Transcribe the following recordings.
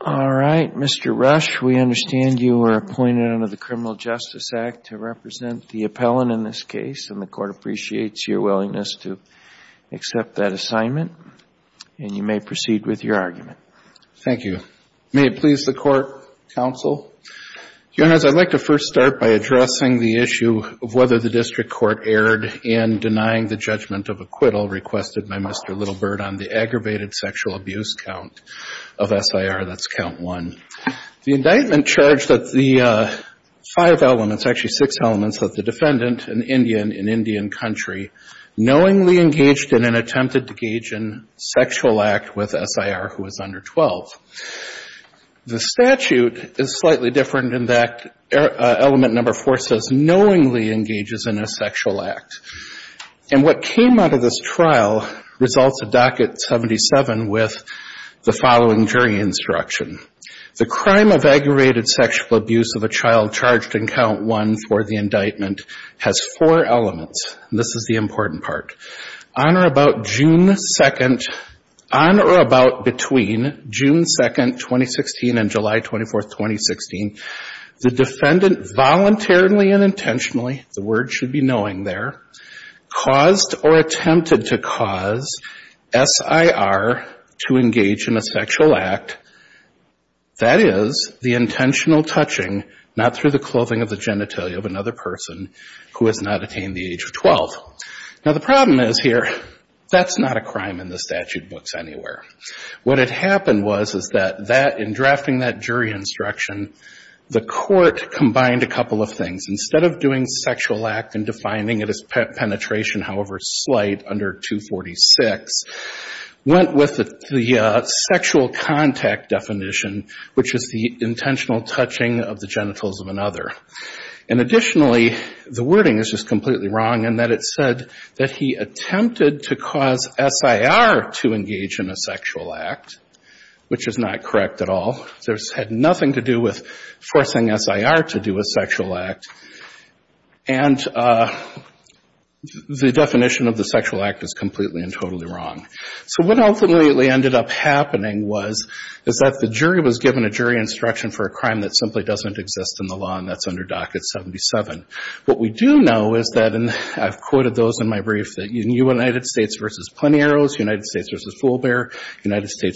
All right, Mr. Rush, we understand you were appointed under the Criminal Justice Act to represent the appellant in this case, and the Court appreciates your willingness to accept that assignment, and you may proceed with your argument. Thank you. May it please the Court, Counsel? Your Honors, I'd like to first start by addressing the issue of whether the District Court erred in denying the judgment of acquittal requested by Mr. Little Bird on the aggravated sexual abuse count of SIR, that's count one. The indictment charged that the five elements, actually six elements, that the defendant, an Indian in Indian country, knowingly engaged in and attempted to engage in a sexual act with SIR who was under 12. The statute is slightly different in that element number four says knowingly engages in a sexual act. And what came out of this trial results to docket 77 with the following jury instruction. The crime of aggravated sexual abuse of a child charged in count one for the indictment has four elements, and this is the important part. On or about June 2nd, on or about between June 2nd, 2016 and July 24th, 2016, the defendant voluntarily and intentionally, the word should be knowing there, caused or attempted to cause SIR to engage in a sexual act, that is, the intentional touching, not through the clothing of the genitalia of another person who has not attained the age of 12. Now the problem is here, that's not a crime in the statute books anywhere. What had happened was, is that in drafting that jury instruction, the court combined a couple of things. Instead of doing sexual act and defining it as penetration, however slight, under 246, went with the sexual contact definition, which is the intentional touching of the genitals of another. And additionally, the wording is just completely wrong in that it said that he attempted to cause SIR to engage in a sexual act, which is not correct at all. This had nothing to do with forcing SIR to do a sexual act. And the definition of the sexual act is completely and totally wrong. So what ultimately ended up happening was, is that the jury was given a jury instruction for a crime that simply doesn't exist in the law, and that's under Docket 77. What we do know is that, and I've quoted those in my brief, that United States v. Plenieros, United States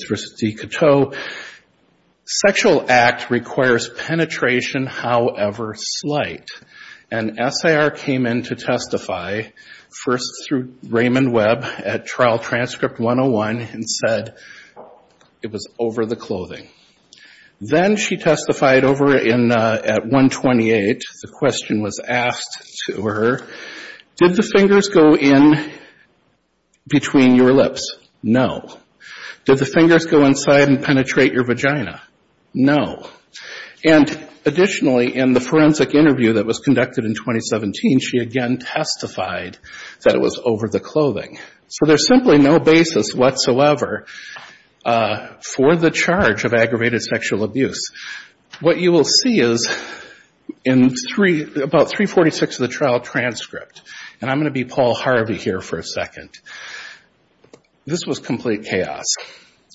v. Dicoteau, sexual act requires penetration, however slight. And SIR came in to testify first through Raymond Webb at Trial Transcript 101 and said it was over the clothing. Then she testified over at 128. The question was asked to her, did the fingers go in between your lips? No. Did the fingers go inside and penetrate your vagina? No. And additionally, in the forensic interview that was conducted in 2017, she again testified that it was over the clothing. So there's simply no basis whatsoever for the charge of aggravated sexual abuse. What you will see is in about 346 of the trial transcript, and I'm going to be Paul Harvey here for a second, this was complete chaos.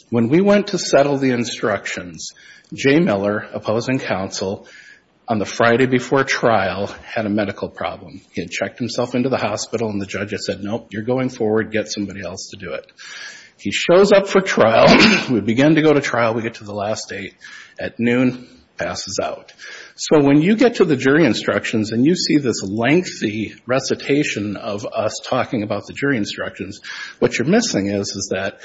When we went to settle the instructions, Jay Miller, opposing counsel, on the Friday before trial had a medical problem. He had checked himself into the hospital and the judge had said, nope, you're going forward, get somebody else to do it. He shows up for trial. We begin to go to trial. We get to the last date. At noon, passes out. So when you get to the jury instructions and you see this lengthy recitation of us talking about the jury instructions, what you're missing is, is that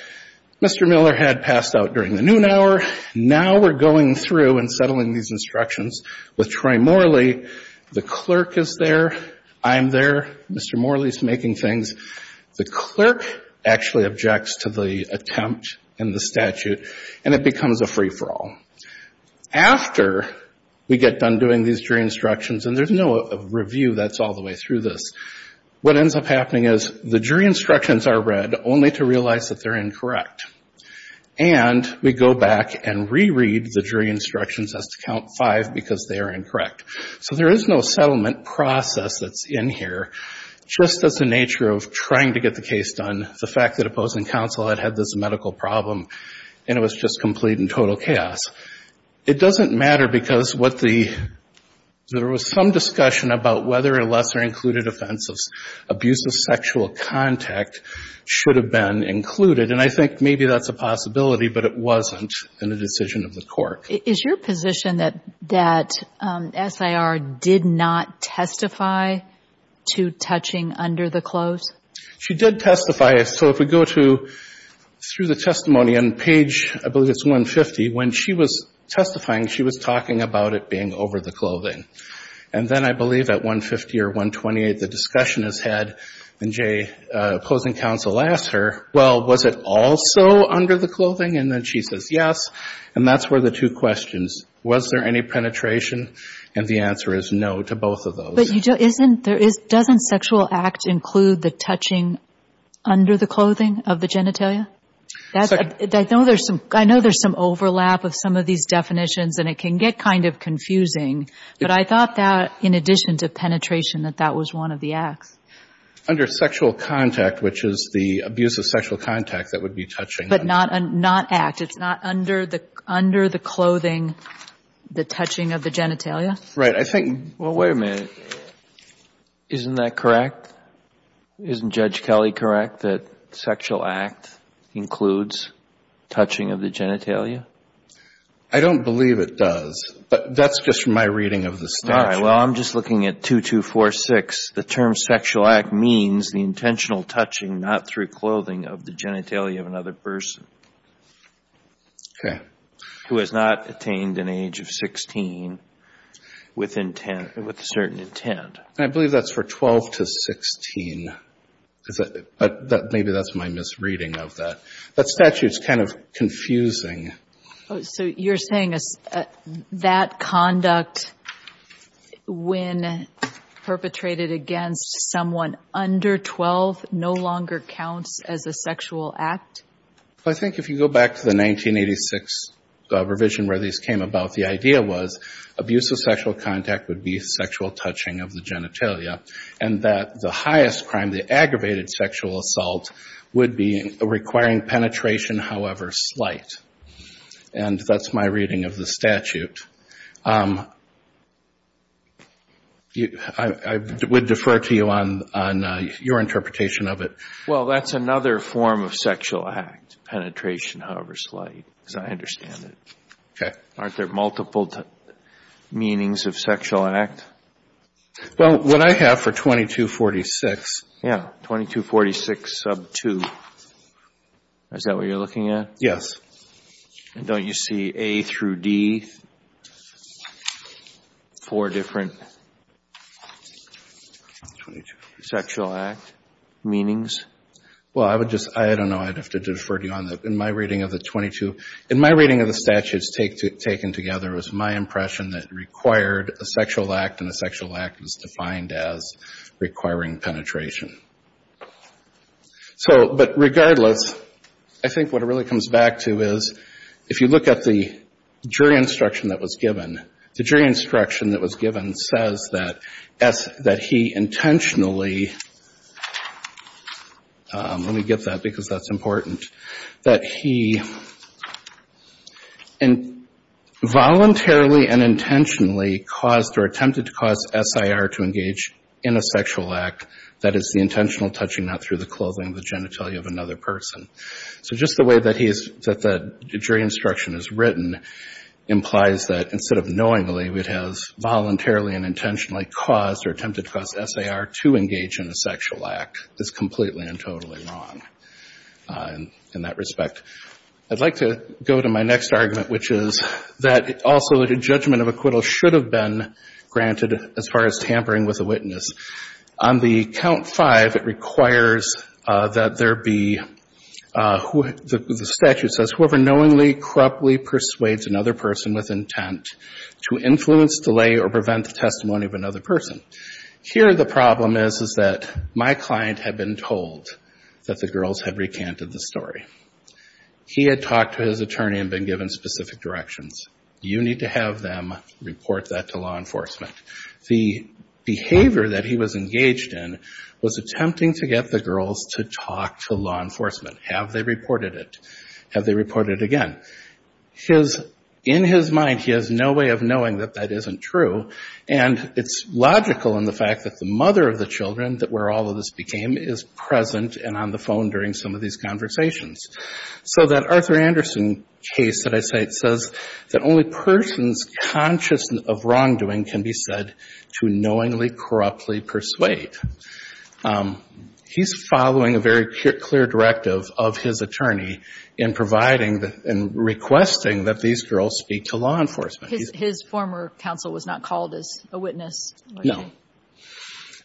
Mr. Miller had passed out during the noon hour. Now we're going through and settling these instructions with Troy Morley. The clerk is there. I'm there. Mr. Morley's making things. The clerk actually objects to the attempt and the statute, and it becomes a free-for-all. After we get done doing these jury instructions, and there's no review that's all the way through this, what ends up happening is the jury instructions are read only to realize that they're incorrect. And we go back and reread the jury instructions as to count five because they are incorrect. So there is no settlement process that's in here. Just as the nature of trying to get the case done, the fact that opposing counsel had had this medical problem and it was just complete and total chaos. It doesn't matter because what the, there was some discussion about whether a lesser-included offense of abuse of sexual contact should have been included. And I think maybe that's a possibility, but it wasn't in the decision of the court. Is your position that, that SIR did not testify to touching under the clothes? She did testify. So if we go to, through the testimony on page, I believe it's 150, when she was testifying, she was talking about it being over the clothing. And then I believe at 150 or 128, the discussion is had and opposing counsel asks her, well, was it also under the clothing? And then she says, yes. And that's where the two questions, was there any penetration? And the answer is no to both of those. But you don't, isn't, there is, doesn't sexual act include the touching under the clothing of the genitalia? That's, I know there's some overlap of some of these definitions and it can get kind of confusing, but I thought that in addition to penetration, that that was one of the acts. Under sexual contact, which is the abuse of sexual contact that would be touching under the clothing. But not, not act. It's not under the, under the clothing, the touching of the genitalia? Right. I think Well, wait a minute. Isn't that correct? Isn't Judge Kelley correct that sexual act includes touching of the genitalia? I don't believe it does, but that's just my reading of the statute. All right. Well, I'm just looking at 2246. The term sexual act means the intentional touching, not through clothing, of the genitalia of another person. Okay. Who has not attained an age of 16 with intent, with a certain intent. And I believe that's for 12 to 16. But maybe that's my misreading of that. That statute's kind of confusing. So you're saying that conduct, when perpetrated against someone under 12, no longer counts as a sexual act? I think if you go back to the 1986 revision where these came about, the idea was abuse of sexual contact would be sexual touching of the genitalia. And that the highest crime, the aggravated sexual assault, would be requiring penetration, however slight. And that's my reading of the statute. I would defer to you on your interpretation of it. Well, that's another form of sexual act. Penetration, however slight. Because I understand it. Okay. Aren't there multiple meanings of sexual act? Well, what I have for 2246. Yeah. 2246 sub 2. Is that what you're looking at? Yes. And don't you see A through D, four different sexual act meanings? Well, I would just, I don't know. I'd have to defer to you on that. In my reading of the statute taken together, it was my impression that it required a sexual act and a sexual act was defined as requiring penetration. So, but regardless, I think what it really comes back to is, if you look at the jury instruction that was given, the jury instruction that was given says that he intentionally let me get that because that's important, that he voluntarily and intentionally caused or attempted to cause SIR to engage in a sexual act that is the intentional touching, not through the clothing or the genitalia of another person. So just the way that he's, that the jury instruction is written, implies that instead of knowingly, it has voluntarily and intentionally caused or attempted to cause SIR to engage in a sexual act is completely and totally wrong in that respect. I'd like to go to my next argument, which is that also the judgment of acquittal should have been granted as far as tampering with a witness. On the count five, it requires that there be, the statute says, whoever knowingly, corruptly persuades another person with intent to influence, delay, or prevent the testimony of another person. Here the problem is, is that my client had been told that the girls had recanted the story. He had talked to his attorney and been given specific directions. You need to have them report that to law enforcement. The behavior that he was engaged in was attempting to get the girls to talk to law enforcement. Have they reported it? Have they reported it again? In his mind, he has no way of knowing that that isn't true. And it's logical in the fact that the mother of the children where all of this became is present and on the phone during some of these conversations. So that Arthur Anderson case that I cite says that only persons conscious of wrongdoing can be said to knowingly, corruptly persuade. He's following a very clear directive of his attorney in providing, in requesting that these girls speak to law enforcement. His former counsel was not called as a witness. No.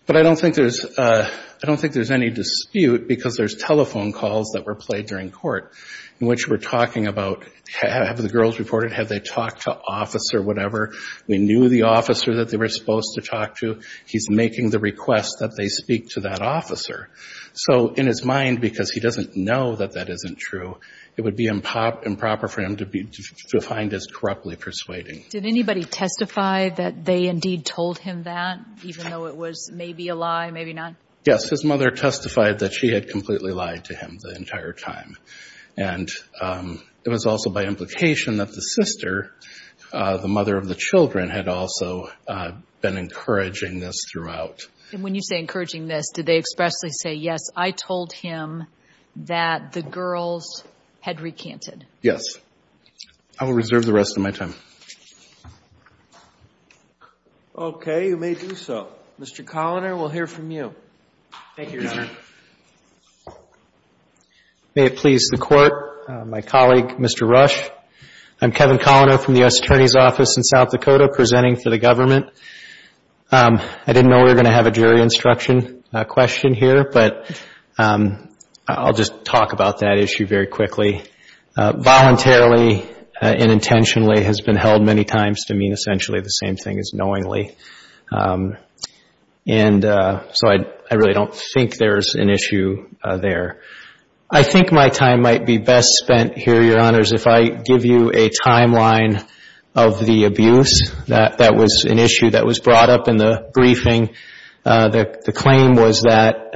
But I don't think there's any dispute because there's telephone calls that were played during court in which we're talking about have the girls reported, have they talked to officer, whatever. We knew the officer that they were supposed to talk to. He's making the request that they speak to that officer. So in his mind, because he doesn't know that that isn't true, it would be improper for him to find this corruptly persuading. Did anybody testify that they indeed told him that, even though it was maybe a lie, maybe not? Yes. His mother testified that she had completely lied to him the entire time. And it was also by implication that the sister, the mother of the children, had also been encouraging this throughout. And when you say encouraging this, did they expressly say, yes, I told him that the girls had recanted? Yes. I will reserve the rest of my time. Okay. You may do so. Mr. Coloner, we'll hear from you. Thank you, Your Honor. May it please the Court, my colleague, Mr. Rush. I'm Kevin Coloner from the U.S. Attorney's Office in South Dakota presenting for the government. I didn't know we were going to have a jury instruction question here, but I'll just talk about that issue very quickly. Voluntarily and intentionally has been held many times to mean essentially the same thing as knowingly. And so I really don't think there's an issue there. I think my time might be best spent here, Your Honors, if I give you a timeline of the abuse that was an issue that was brought up in the briefing. The claim was that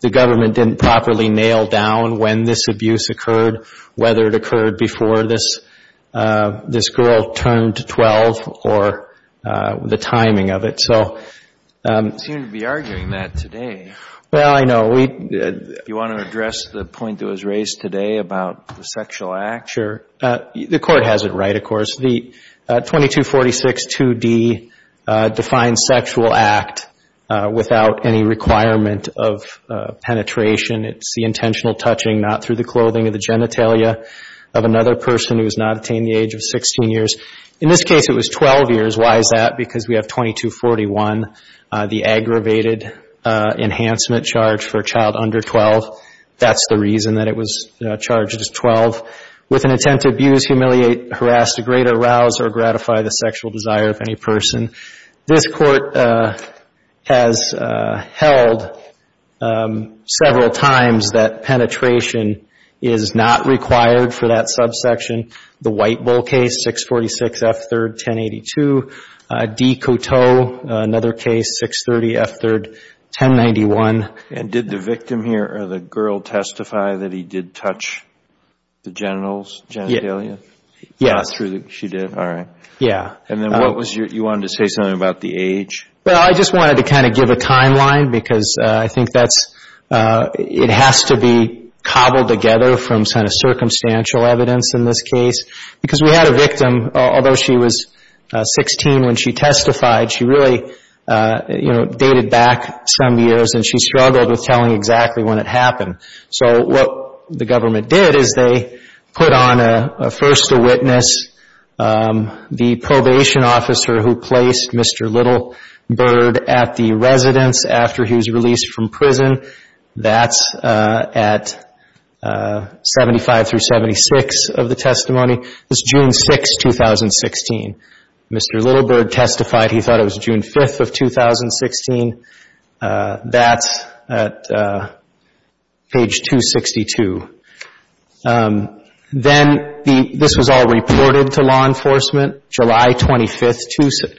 the government didn't properly nail down when this abuse occurred, whether it occurred before this girl turned 12 or the timing of it. You seem to be arguing that today. Well, I know. You want to address the point that was raised today about the sexual act? Sure. The Court has it right, of course. The 22462D defines sexual act without any requirement of penetration. It's the intentional touching not through the clothing or the genitalia of another person who has not attained the age of 16 years. In this case, it was 12 years. Why is that? Because we have 2241, the aggravated enhancement charge for a child under 12. That's the reason that it was charged as 12. With an intent to abuse, humiliate, harass, degrade, arouse or gratify the sexual desire of any person. This Court has held several times that penetration is not required for that subsection. The White Bull case, 646 F. 3rd, 1082. D. Coteau, another case, 630 F. 3rd, 1091. And did the victim here or the girl testify that he did touch the genitals, genitalia? Yes. She did. All right. Yeah. And then what was your, you wanted to say something about the age? Well, I just wanted to kind of give a timeline because I think that's, it has to be cobbled together from kind of circumstantial evidence in this case. Because we had a victim, although she was 16 when she testified, she really, you know, dated back some years and she struggled with telling exactly when it happened. So what the government did is they put on a first witness, the probation officer who placed Mr. Littlebird at the residence after he was released from prison. That's at 75 through 76 of the testimony. It was June 6, 2016. Mr. Littlebird testified he thought it was June 5 of 2016. That's at page 262. Then this was all reported to law enforcement, July 25,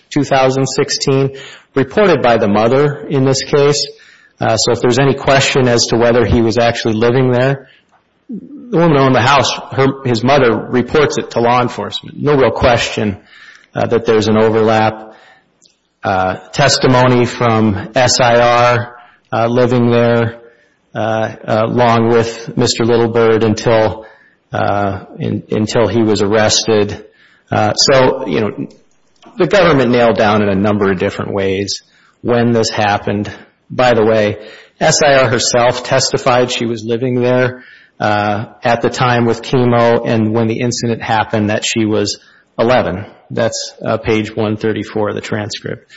2016, reported by the mother in this case. So if there's any question as to whether he was actually living there, the woman owned the house, his mother reports it to law enforcement. No real question that there's an overlap. Testimony from SIR living there along with Mr. Littlebird until he was arrested. So, you know, the government nailed down in a number of different ways when this happened. By the way, SIR herself testified she was living there at the time with chemo and when the incident happened that she was 11. That's page 134 of the transcript.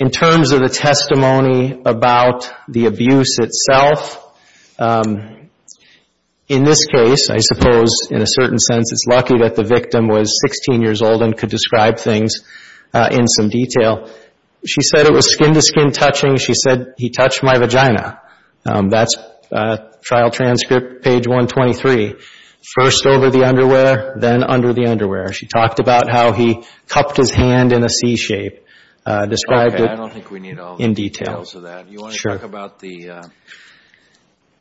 In terms of the testimony about the abuse itself, in this case, I suppose, in a certain sense, it's lucky that the victim was 16 years old and could describe things in some detail. She said it was skin-to-skin touching. She said, he touched my vagina. That's trial transcript, page 123. First over the underwear, then under the underwear. She talked about how he cupped his hand in a C-shape, described it in detail. You want to talk about the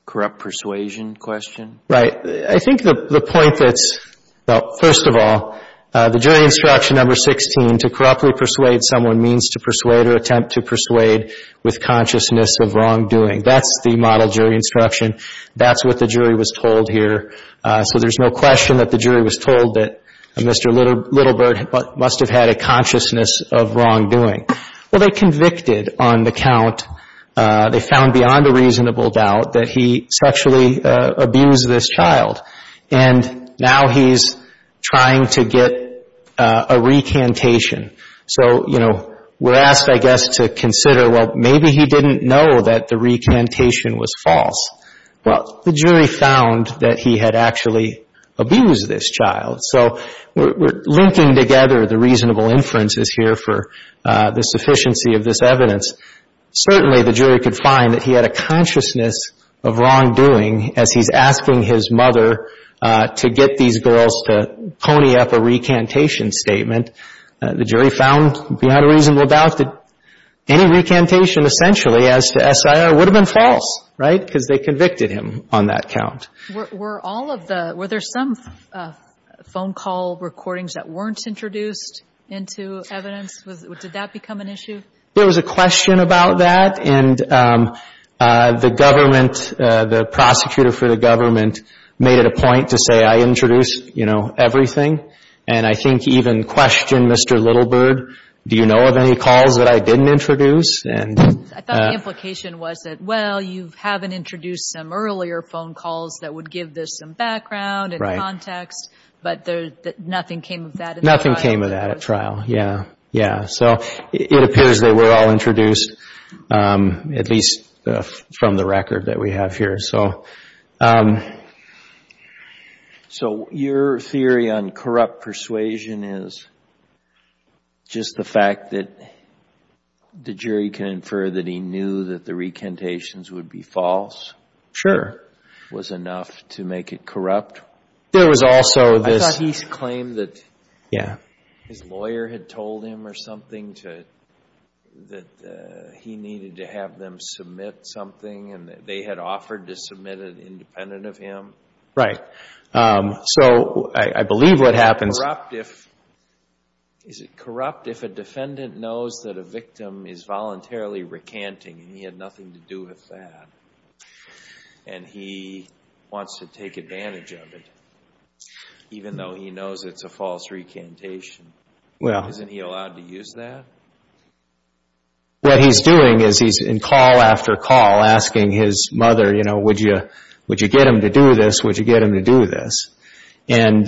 corrupt persuasion question? Right. I think the point that's, well, first of all, the jury instruction number 16, to corruptly persuade someone means to persuade or attempt to persuade with consciousness of wrongdoing. That's the model jury instruction. That's what the jury was told here. So there's no question that the jury was told that Mr. Littlebird must have had a consciousness of wrongdoing. Well, they convicted on the count, they found beyond a reasonable doubt, that he sexually abused this child. And now he's trying to get a recantation. So, you know, we're asked, I guess, to consider, well, maybe he didn't know that the recantation was false. Well, the jury found that he had actually abused this child. So we're linking together the reasonable inferences here for the sufficiency of this evidence. Certainly the jury could find that he had a consciousness of wrongdoing as he's asking his mother to get these girls to pony up a recantation statement. The jury found beyond a reasonable doubt that any recantation, essentially, as to SIR, would have been false, right, because they convicted him on that count. Were all of the, were there some phone call recordings that weren't introduced into evidence? Did that become an issue? There was a question about that, and the government, the prosecutor for the government, made it a point to say, I introduce, you know, everything. And I think even questioned Mr. Littleburg, do you know of any calls that I didn't introduce? I thought the implication was that, well, you haven't introduced some earlier phone calls that would give this some background and context, but nothing came of that at trial. Nothing came of that at trial, yeah, yeah. So it appears they were all introduced, at least from the record that we have here. So your theory on corrupt persuasion is just the fact that the jury can infer that he knew that the recantations would be false? Sure. Was enough to make it corrupt? I thought he claimed that his lawyer had told him or something that he needed to have them submit something, and that they had offered to submit it independent of him. So I believe what happens Is it corrupt if a defendant knows that a victim is voluntarily recanting, and he had nothing to do with that, and he wants to take advantage of it, even though he knows it's a false recantation? Isn't he allowed to use that? What he's doing is he's in call after call asking his mother, you know, would you get him to do this, would you get him to do this? And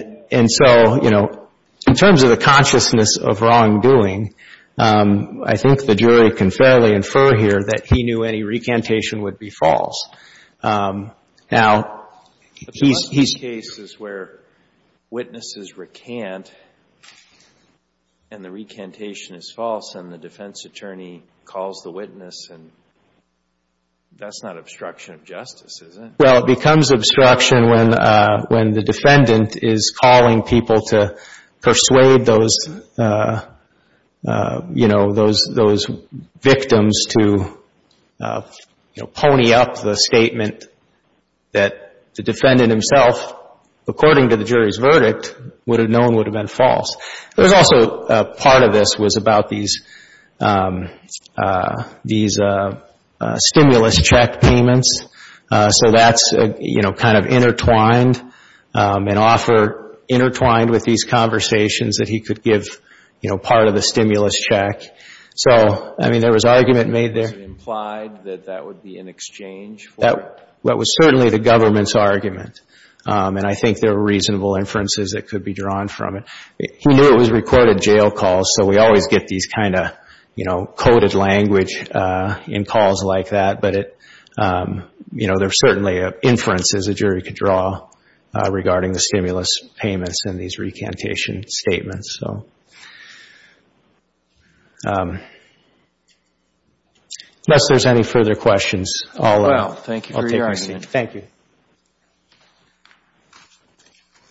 so, you know, in terms of the consciousness of wrongdoing, I think the jury can fairly infer here that he knew any recantation would be false. Now, he's where witnesses recant, and the recantation is false, and the defense attorney calls the witness, and that's not obstruction of justice, is it? Well, it becomes obstruction when the defendant is calling people to persuade those, you know, those victims to pony up the statement that the defendant himself according to the jury's verdict would have known would have been false. There's also part of this was about these stimulus check payments. So that's, you know, kind of intertwined, an offer intertwined with these conversations that he could give, you know, part of the stimulus check. So, I mean, there was argument made there. Was it implied that that would be in exchange for? That was certainly the government's argument, and I think there were reasonable inferences that could be drawn from it. He knew it was recorded jail calls, so we always get these kind of, you know, coded language in calls like that, but it, you know, there are certainly inferences a jury could draw regarding the stimulus payments in these recantation statements, so. Unless there's any further questions, I'll take my seat. Well, thank you for your argument. Thank you.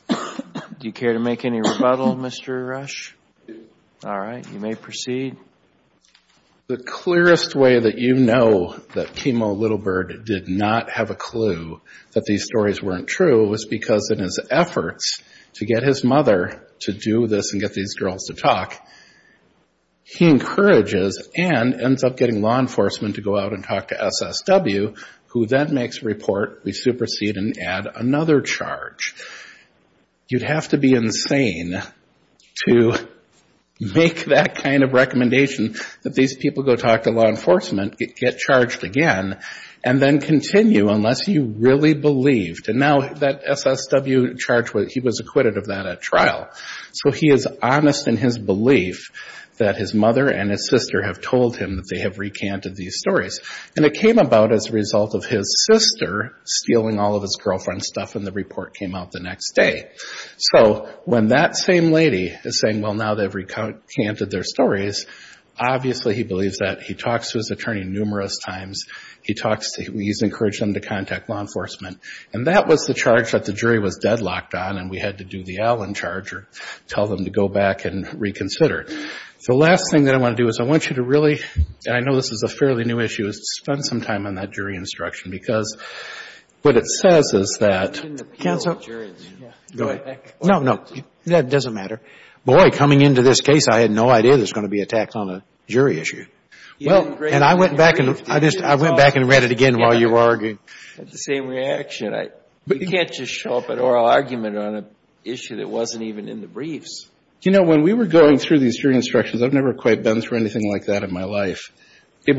Do you care to make any rebuttal, Mr. Rush? All right, you may proceed. The clearest way that you know that Kimo Littlebird did not have a clue that these stories weren't true was because in his efforts to get his mother to do this and get these girls to talk, he encourages and ends up getting law enforcement to go out and talk to SSW, who then makes a report. We supersede and add another charge. You'd have to be insane to make that kind of recommendation that these people go talk to law enforcement, get charged again, and then continue unless you really believed. And now that SSW charge, he was acquitted of that at trial. So he is honest in his belief that his mother and his sister have told him that they have recanted these stories. And it came about as a result of his sister stealing all of his girlfriend's stuff, and the report came out the next day. So when that same lady is saying, well, now they've recanted their stories, obviously he believes that. He talks to his attorney numerous times. He's encouraged them to contact law enforcement. And that was the charge that the jury was deadlocked on, and we had to do the Allen charge or tell them to go back and reconsider. The last thing that I want to do is I want you to really, and I know this is a fairly new issue, is to spend some time on that jury instruction because what it says is that. Counsel. Go ahead. No, no. That doesn't matter. Boy, coming into this case, I had no idea there was going to be a tax on a jury issue. And I went back and read it again while you were arguing. I had the same reaction. You can't just show up at oral argument on an issue that wasn't even in the briefs. You know, when we were going through these jury instructions, I've never quite been through anything like that in my life. And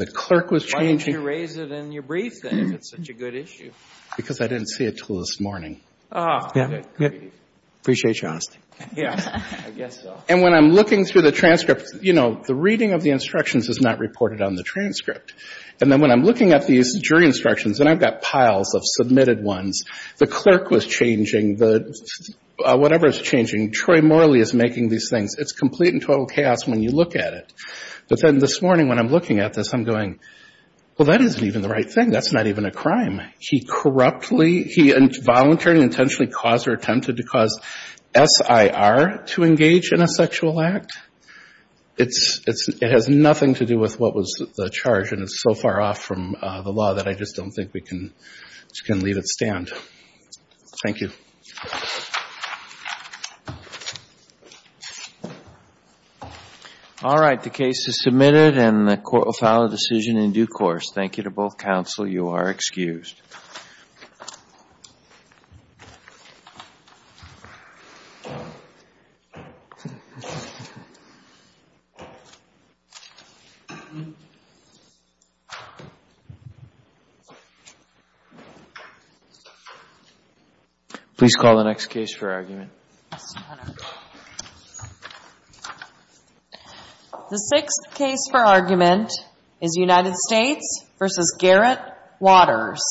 the clerk was changing. Why didn't you raise it in your brief then if it's such a good issue? Because I didn't see it until this morning. Ah. Appreciate your honesty. Yeah, I guess so. And when I'm looking through the transcript, you know, the reading of the instructions is not reported on the transcript. And then when I'm looking at these jury instructions, and I've got piles of submitted ones, the clerk was changing. Whatever is changing, Troy Morley is making these things. It's complete and total chaos when you look at it. But then this morning when I'm looking at this, I'm going, well, that isn't even the right thing. That's not even a crime. He corruptly, he voluntarily, intentionally caused or attempted to cause SIR to engage in a sexual act. It has nothing to do with what was the charge, and it's so far off from the law that I just don't think we can leave it stand. Thank you. All right. The case is submitted and the court will file a decision in due course. Thank you to both counsel. You are excused. Thank you. Please call the next case for argument. The sixth case for argument is United States v. Garrett Waters.